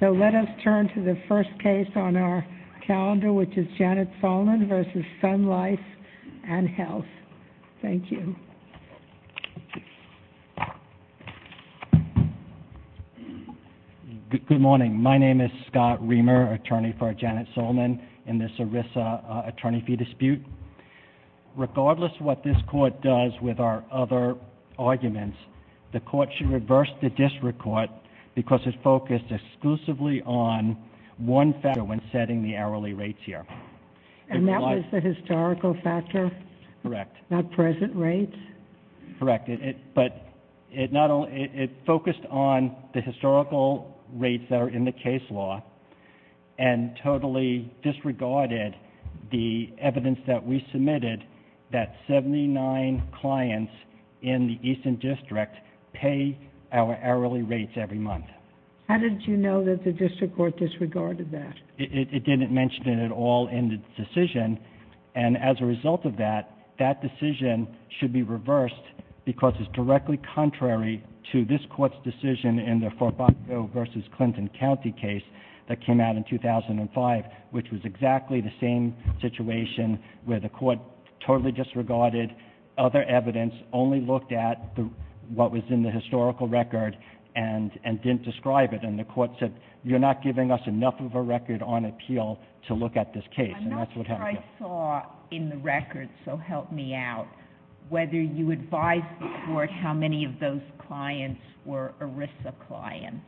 So let us turn to the first case on our calendar, which is Janet Solnin v. Sun Life and Health. Thank you. Good morning. My name is Scott Reamer, attorney for Janet Solnin in this ERISA attorney fee dispute. Regardless of what this court does with our other arguments, the court should reverse the district court because it focused exclusively on one factor when setting the hourly rates here. And that was the historical factor? Correct. Not present rates? Correct. But it focused on the historical rates that are in the case law and totally disregarded the evidence that we submitted that 79 clients in the Eastern District pay our hourly rates every month. How did you know that the district court disregarded that? It didn't mention it at all in the decision, and as a result of that, that decision should be reversed because it's directly contrary to this court's decision in the Fabaco v. Clinton County case that came out in 2005, which was exactly the same situation where the court totally disregarded other evidence, only looked at what was in the historical record, and didn't describe it. And the court said, you're not giving us enough of a record on appeal to look at this case, and that's what happened. I'm not sure I saw in the record, so help me out, whether you advised the court how many of those clients were ERISA clients.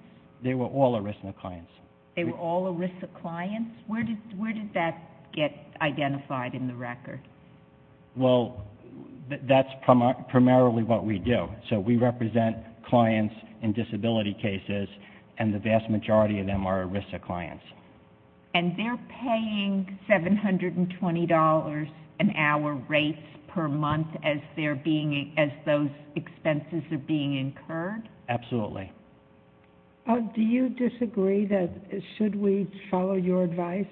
They were all ERISA clients. They were all ERISA clients? Where did that get identified in the record? Well, that's primarily what we do. So we represent clients in disability cases, and the vast majority of them are ERISA clients. And they're paying $720 an hour rates per month as those expenses are being incurred? Absolutely. Do you disagree that, should we follow your advice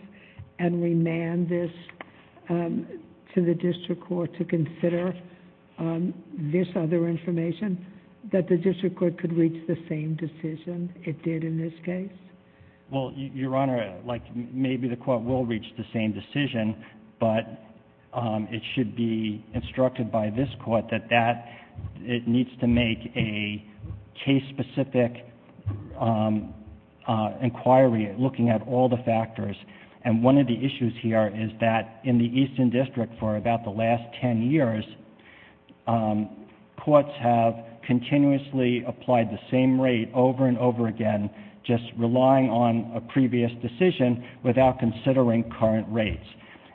and remand this to the district court to consider this other information, that the district court could reach the same decision it did in this case? Well, Your Honor, maybe the court will reach the same decision, but it should be instructed by this court that it needs to make a case-specific inquiry looking at all the factors. And one of the issues here is that in the Eastern District for about the last 10 years, courts have continuously applied the same rate over and over again, just relying on a previous decision without considering current rates.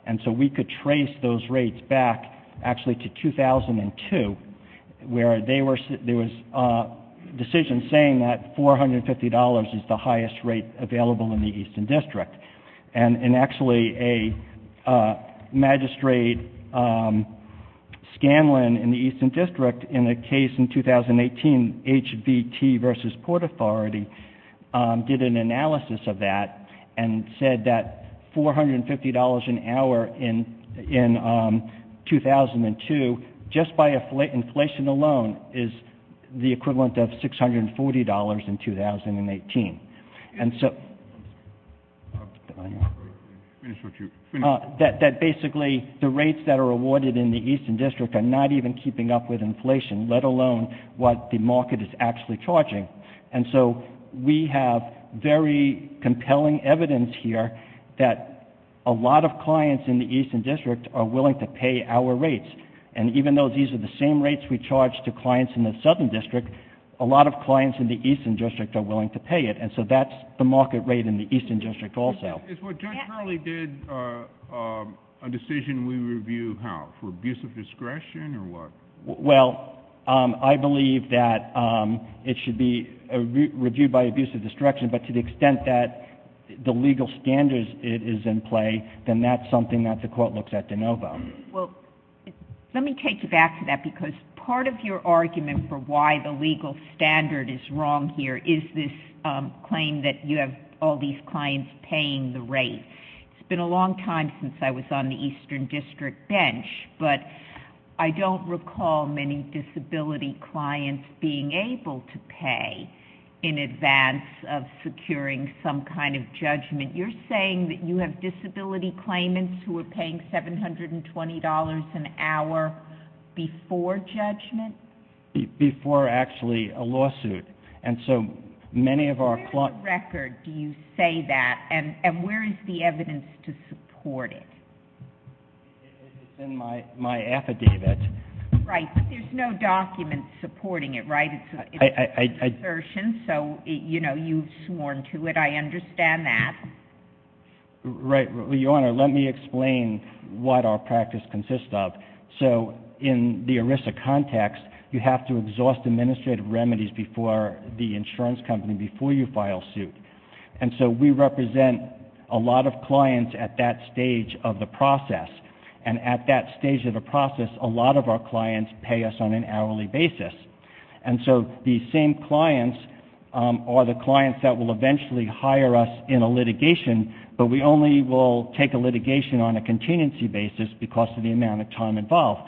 And so we could trace those rates back actually to 2002, where there was a decision saying that $450 is the highest rate available in the Eastern District. And actually a magistrate, Scanlon, in the Eastern District in a case in 2018, HVT versus Port Authority, did an analysis of that and said that $450 an hour in 2002, just by inflation alone, is the equivalent of $640 in 2018. And so, that basically the rates that are awarded in the Eastern District are not even keeping up with inflation, let alone what the market is actually charging. And so, we have very compelling evidence here that a lot of clients in the Eastern District are willing to pay our rates. And even though these are the same rates we charge to clients in the Southern District, a lot of clients in the Eastern District are willing to pay it. And so that's the market rate in the Eastern District also. Is what Judge Hurley did a decision we review how, for abuse of discretion or what? Well, I believe that it should be reviewed by abuse of discretion, but to the extent that the legal standards it is in play, then that's something that the court looks at de novo. Well, let me take you back to that because part of your argument for why the legal standard is wrong here is this claim that you have all these clients paying the rate. It's been a long time since I was on the Eastern District bench, but I don't recall many disability clients being able to pay in advance of securing some kind of judgment. You're saying that you have disability claimants who are paying $720 an hour before judgment? Before actually a lawsuit. Where in the record do you say that, and where is the evidence to support it? It's in my affidavit. Right, but there's no document supporting it, right? It's an assertion, so you've sworn to it. I understand that. Right. Your Honor, let me explain what our practice consists of. In the ERISA context, you have to exhaust administrative remedies before the insurance company, before you file suit. We represent a lot of clients at that stage of the process, and at that stage of the process, a lot of our clients pay us on an hourly basis. The same clients are the clients that will eventually hire us in a litigation, but we only will take a litigation on a contingency basis because of the amount of time involved.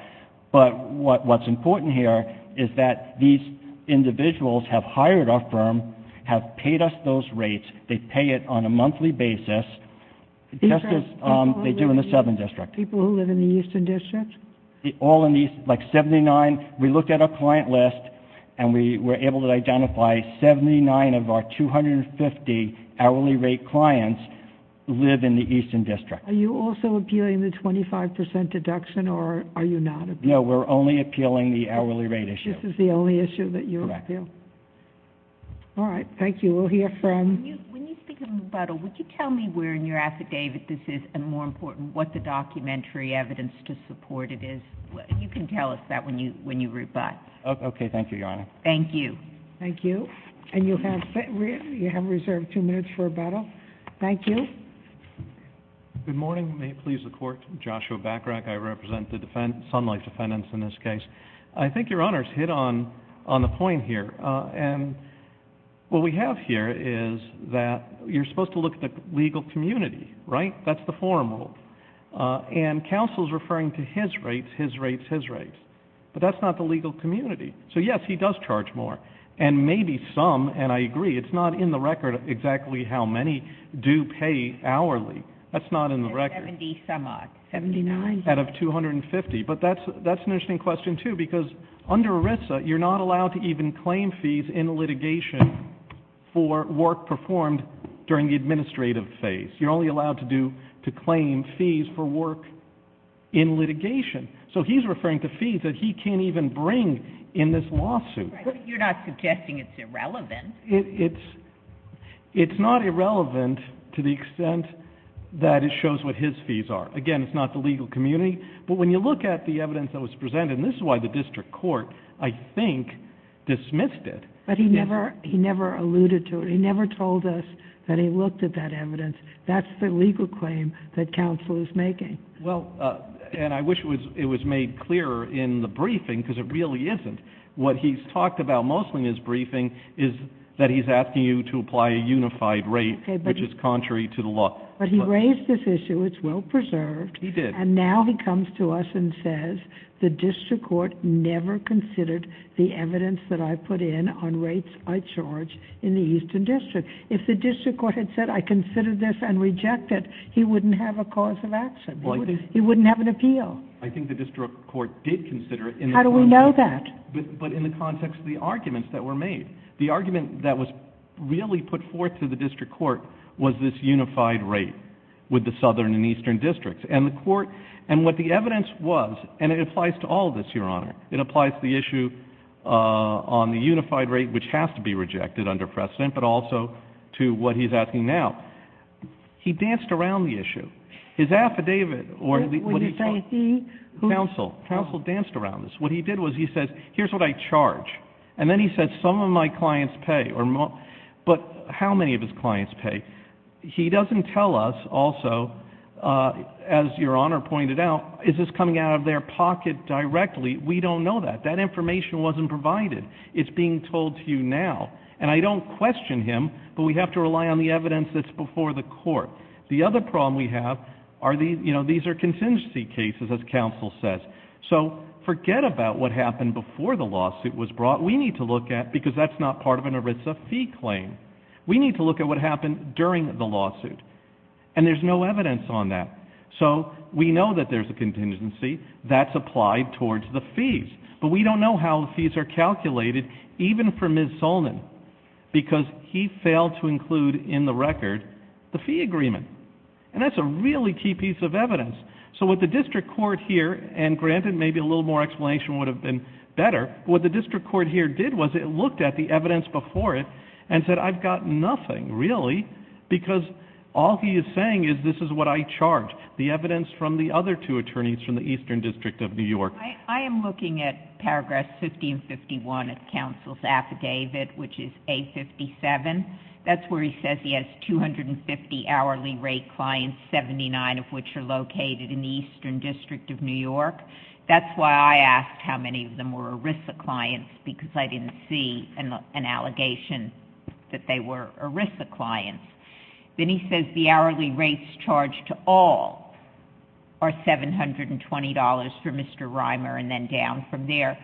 What's important here is that these individuals have hired our firm, have paid us those rates, they pay it on a monthly basis, just as they do in the Southern District. People who live in the Eastern District? All in the East, like 79, we looked at our client list, and we were able to identify 79 of our 250 hourly rate clients live in the Eastern District. Are you also appealing the 25% deduction, or are you not appealing? No, we're only appealing the hourly rate issue. This is the only issue that you appeal? Correct. All right, thank you. We'll hear from... When you speak of rebuttal, would you tell me where in your affidavit this is, and more important, what the documentary evidence to support it is? You can tell us that when you rebut. Okay, thank you, Your Honor. Thank you. Thank you. And you have reserved two minutes for rebuttal. Thank you. Good morning. May it please the Court. Joshua Bacharach. I represent the Sunlight Defendants in this case. I think Your Honor's hit on the point here. And what we have here is that you're supposed to look at the legal community, right? That's the forum rule. And counsel's referring to his rates, his rates, his rates. But that's not the legal community. So, yes, he does charge more, and maybe some, and I agree. It's not in the record exactly how many do pay hourly. That's not in the record. 70-some-odd. 79? Out of 250. But that's an interesting question, too, because under ERISA, you're not allowed to even claim fees in litigation for work performed during the administrative phase. You're only allowed to claim fees for work in litigation. So he's referring to fees that he can't even bring in this lawsuit. Right, but you're not suggesting it's irrelevant. It's not irrelevant to the extent that it shows what his fees are. Again, it's not the legal community. But when you look at the evidence that was presented, and this is why the district court, I think, dismissed it. But he never alluded to it. He never told us that he looked at that evidence. That's the legal claim that counsel is making. Well, and I wish it was made clearer in the briefing, because it really isn't. What he's talked about mostly in his briefing is that he's asking you to apply a unified rate, which is contrary to the law. But he raised this issue. It's well-preserved. He did. And now he comes to us and says the district court never considered the evidence that I put in on rates I charge in the Eastern District. If the district court had said, I consider this and reject it, he wouldn't have a cause of action. He wouldn't have an appeal. I think the district court did consider it. How do we know that? But in the context of the arguments that were made. The argument that was really put forth to the district court was this unified rate with the Southern and Eastern Districts. And the court, and what the evidence was, and it applies to all of this, Your Honor. It applies to the issue on the unified rate, which has to be rejected under precedent, but also to what he's asking now. He danced around the issue. His affidavit, or what he called it. Would you say he? Counsel. Counsel danced around this. What he did was he said, here's what I charge. And then he said, some of my clients pay. But how many of his clients pay? He doesn't tell us also, as Your Honor pointed out, is this coming out of their pocket directly. We don't know that. That information wasn't provided. It's being told to you now. And I don't question him, but we have to rely on the evidence that's before the court. The other problem we have are these are contingency cases, as counsel says. So forget about what happened before the lawsuit was brought. We need to look at, because that's not part of an ERISA fee claim. We need to look at what happened during the lawsuit. And there's no evidence on that. So we know that there's a contingency. That's applied towards the fees. But we don't know how the fees are calculated, even for Ms. Solnit. Because he failed to include in the record the fee agreement. And that's a really key piece of evidence. So what the district court here, and granted maybe a little more explanation would have been better, what the district court here did was it looked at the evidence before it and said, I've got nothing, really, because all he is saying is this is what I charged, the evidence from the other two attorneys from the Eastern District of New York. I am looking at paragraphs 50 and 51 of counsel's affidavit, which is A57. That's where he says he has 250 hourly rate clients, 79 of which are located in the Eastern District of New York. That's why I asked how many of them were ERISA clients, because I didn't see an allegation that they were ERISA clients. Then he says the hourly rates charged to all are $720 for Mr. Reimer and then down from there.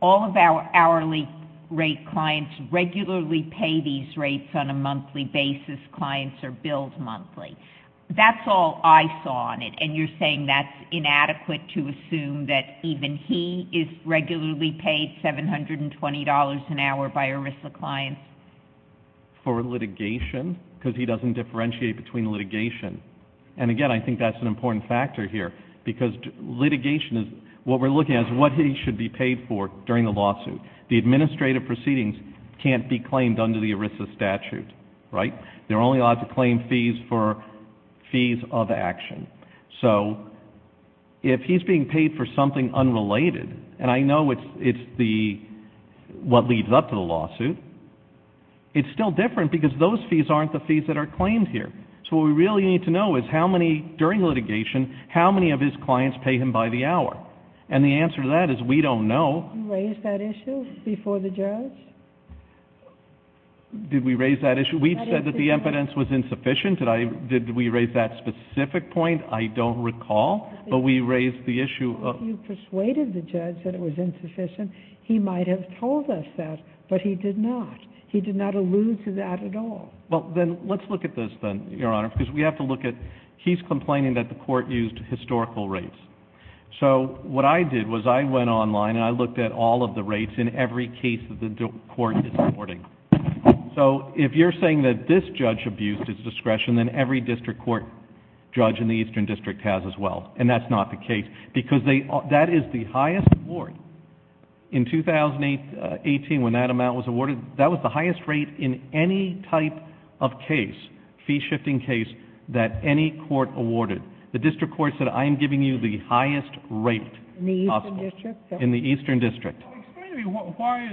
All of our hourly rate clients regularly pay these rates on a monthly basis. Clients are billed monthly. That's all I saw in it. And you're saying that's inadequate to assume that even he is regularly paid $720 an hour by ERISA clients? For litigation, because he doesn't differentiate between litigation. And, again, I think that's an important factor here, because litigation is what we're looking at is what he should be paid for during the lawsuit. The administrative proceedings can't be claimed under the ERISA statute, right? They're only allowed to claim fees for fees of action. So if he's being paid for something unrelated, and I know it's what leads up to the lawsuit, it's still different because those fees aren't the fees that are claimed here. So what we really need to know is how many, during litigation, how many of his clients pay him by the hour. And the answer to that is we don't know. You raised that issue before the judge? Did we raise that issue? We've said that the evidence was insufficient. Did we raise that specific point? I don't recall, but we raised the issue. You persuaded the judge that it was insufficient. He might have told us that, but he did not. He did not allude to that at all. Well, then let's look at this then, Your Honor, because we have to look at he's complaining that the court used historical rates. So what I did was I went online and I looked at all of the rates in every case that the court is awarding. So if you're saying that this judge abused his discretion, then every district court judge in the Eastern District has as well, and that's not the case because that is the highest award. In 2018, when that amount was awarded, that was the highest rate in any type of case, fee-shifting case, that any court awarded. The district court said, I am giving you the highest rate possible. In the Eastern District? In the Eastern District. Explain to me, why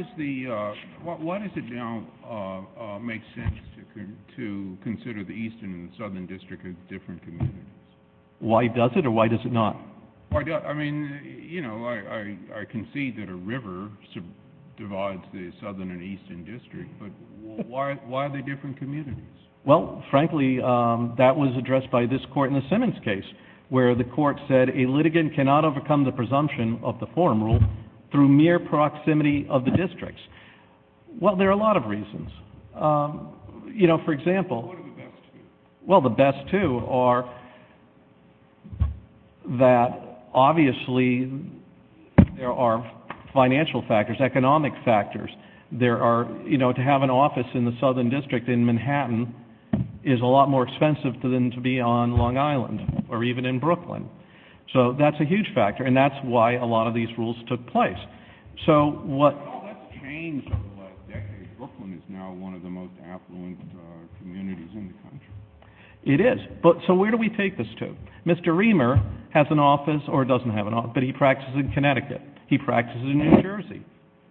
does it not make sense to consider the Eastern and the Southern District as different communities? Why does it or why does it not? I mean, you know, I concede that a river divides the Southern and Eastern District, but why are they different communities? Well, frankly, that was addressed by this court in the Simmons case, where the court said a litigant cannot overcome the presumption of the forum rule through mere proximity of the districts. Well, there are a lot of reasons. You know, for example. What are the best two? The best two are that, obviously, there are financial factors, economic factors. There are, you know, to have an office in the Southern District in Manhattan is a lot more expensive than to be on Long Island or even in Brooklyn. So that's a huge factor, and that's why a lot of these rules took place. So what Well, that's changed over the last decade. Brooklyn is now one of the most affluent communities in the country. It is. So where do we take this to? Mr. Reamer has an office or doesn't have an office, but he practices in Connecticut. He practices in New Jersey.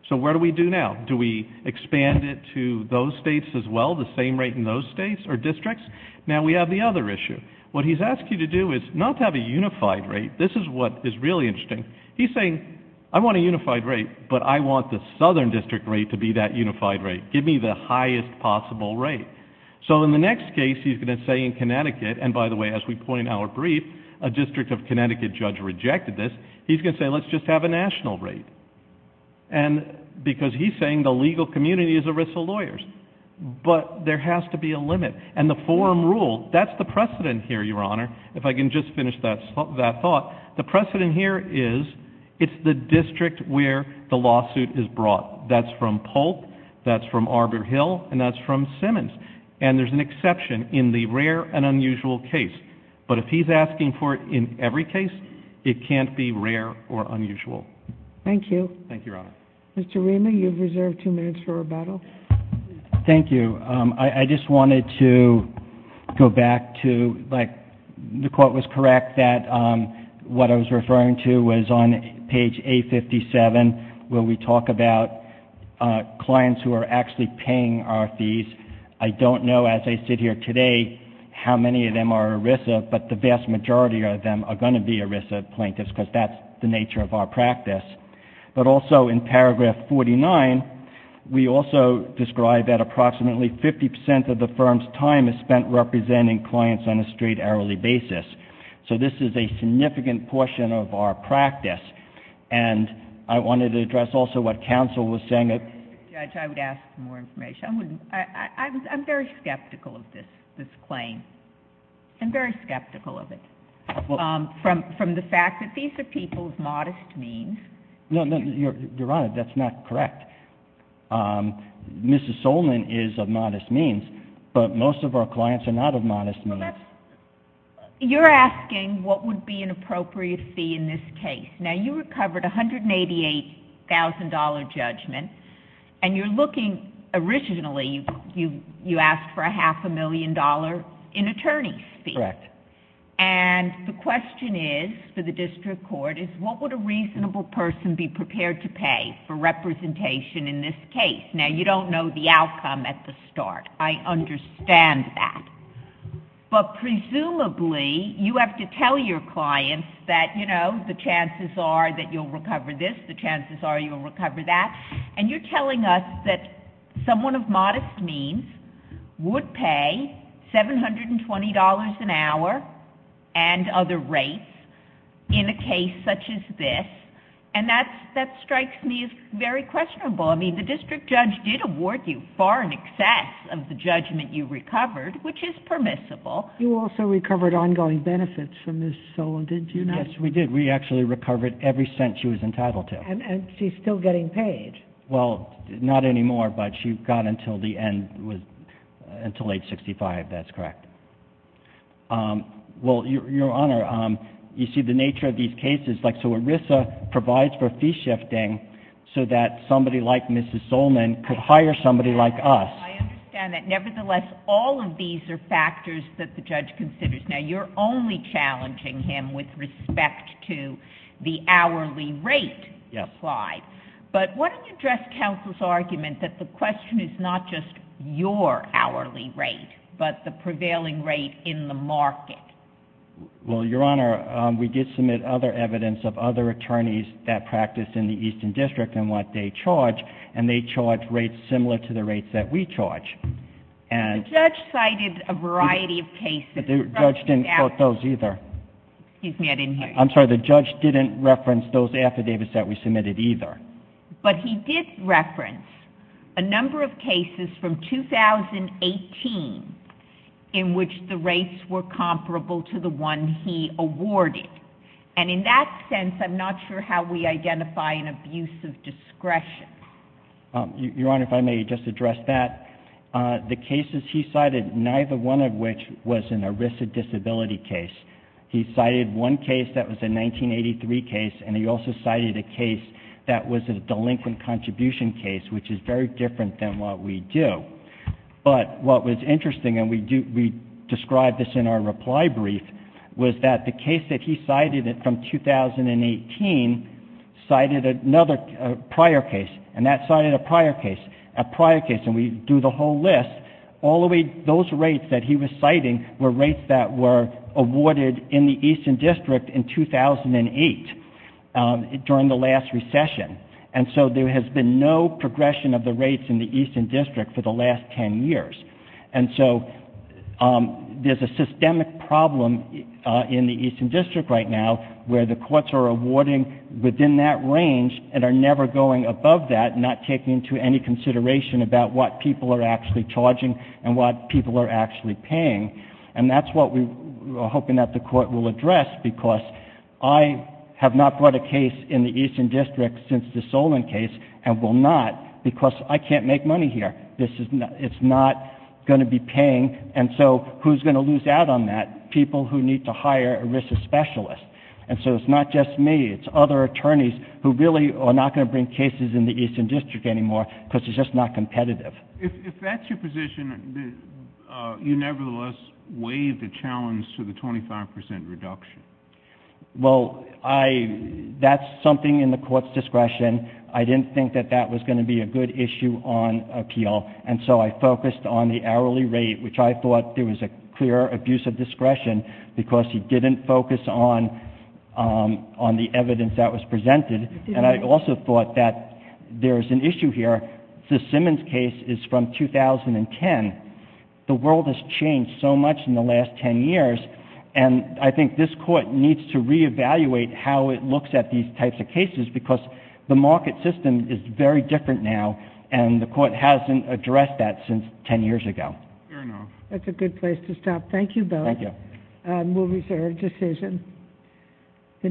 So what do we do now? Do we expand it to those states as well, the same rate in those states or districts? Now we have the other issue. What he's asked you to do is not have a unified rate. This is what is really interesting. He's saying, I want a unified rate, but I want the Southern District rate to be that unified rate. Give me the highest possible rate. So in the next case, he's going to say in Connecticut, and by the way, as we point in our brief, a District of Connecticut judge rejected this. He's going to say, let's just have a national rate. And because he's saying the legal community is at risk of lawyers, but there has to be a limit. And the forum rule, that's the precedent here, Your Honor, if I can just finish that thought. The precedent here is it's the district where the lawsuit is brought. That's from Polk, that's from Arbor Hill, and that's from Simmons. And there's an exception in the rare and unusual case. But if he's asking for it in every case, it can't be rare or unusual. Thank you. Thank you, Your Honor. Mr. Rima, you've reserved two minutes for rebuttal. Thank you. I just wanted to go back to, like, the quote was correct that what I was referring to was on page A57, where we talk about clients who are actually paying our fees. I don't know, as I sit here today, how many of them are ERISA, but the vast majority of them are going to be ERISA plaintiffs because that's the nature of our practice. But also in paragraph 49, we also describe that approximately 50 percent of the firm's time is spent representing clients on a straight hourly basis. So this is a significant portion of our practice. And I wanted to address also what counsel was saying. Judge, I would ask for more information. I'm very skeptical of this claim. I'm very skeptical of it. From the fact that these are people of modest means. No, Your Honor, that's not correct. Mrs. Solman is of modest means, but most of our clients are not of modest means. You're asking what would be an appropriate fee in this case. Now, you recovered $188,000 judgment, and you're looking, originally you asked for a half a million dollar in attorney's fee. Correct. And the question is, for the district court, is what would a reasonable person be prepared to pay for representation in this case? Now, you don't know the outcome at the start. I understand that. But presumably, you have to tell your clients that, you know, the chances are that you'll recover this. The chances are you'll recover that. And you're telling us that someone of modest means would pay $720 an hour and other rates in a case such as this, and that strikes me as very questionable. I mean, the district judge did award you far in excess of the judgment you recovered, which is permissible. You also recovered ongoing benefits from Ms. Solman, did you not? Yes, we did. We actually recovered every cent she was entitled to. And she's still getting paid. Well, not anymore, but she got until the end, until age 65, that's correct. Well, Your Honor, you see the nature of these cases. So ERISA provides for fee shifting so that somebody like Ms. Solman could hire somebody like us. I understand that. Nevertheless, all of these are factors that the judge considers. Now, you're only challenging him with respect to the hourly rate slide. Yes. But why don't you address counsel's argument that the question is not just your hourly rate, but the prevailing rate in the market? Well, Your Honor, we did submit other evidence of other attorneys that practice in the Eastern District and what they charge, and they charge rates similar to the rates that we charge. The judge cited a variety of cases. But the judge didn't quote those either. Excuse me, I didn't hear you. I'm sorry, the judge didn't reference those affidavits that we submitted either. But he did reference a number of cases from 2018 in which the rates were comparable to the one he awarded. And in that sense, I'm not sure how we identify an abuse of discretion. Your Honor, if I may just address that. The cases he cited, neither one of which was in a risk of disability case. He cited one case that was a 1983 case, and he also cited a case that was a delinquent contribution case, which is very different than what we do. But what was interesting, and we described this in our reply brief, was that the case that he cited from 2018 cited another prior case, and that cited a prior case, a prior case, and we do the whole list. All of those rates that he was citing were rates that were awarded in the Eastern District in 2008 during the last recession. And so there has been no progression of the rates in the Eastern District for the last 10 years. And so there's a systemic problem in the Eastern District right now where the courts are awarding within that range and are never going above that, not taking into any consideration about what people are actually charging and what people are actually paying. And that's what we are hoping that the Court will address because I have not brought a case in the Eastern District since the Solon case, and will not because I can't make money here. It's not going to be paying, and so who's going to lose out on that? People who need to hire a risk specialist. And so it's not just me. It's other attorneys who really are not going to bring cases in the Eastern District anymore because it's just not competitive. If that's your position, you nevertheless waive the challenge to the 25 percent reduction. Well, that's something in the Court's discretion. I didn't think that that was going to be a good issue on appeal, and so I focused on the hourly rate, which I thought there was a clear abuse of discretion because he didn't focus on the evidence that was presented. And I also thought that there's an issue here. The Simmons case is from 2010. The world has changed so much in the last 10 years, and I think this Court needs to reevaluate how it looks at these types of cases because the market system is very different now, and the Court hasn't addressed that since 10 years ago. Fair enough. That's a good place to stop. Thank you, Bill. Thank you. We'll reserve decision.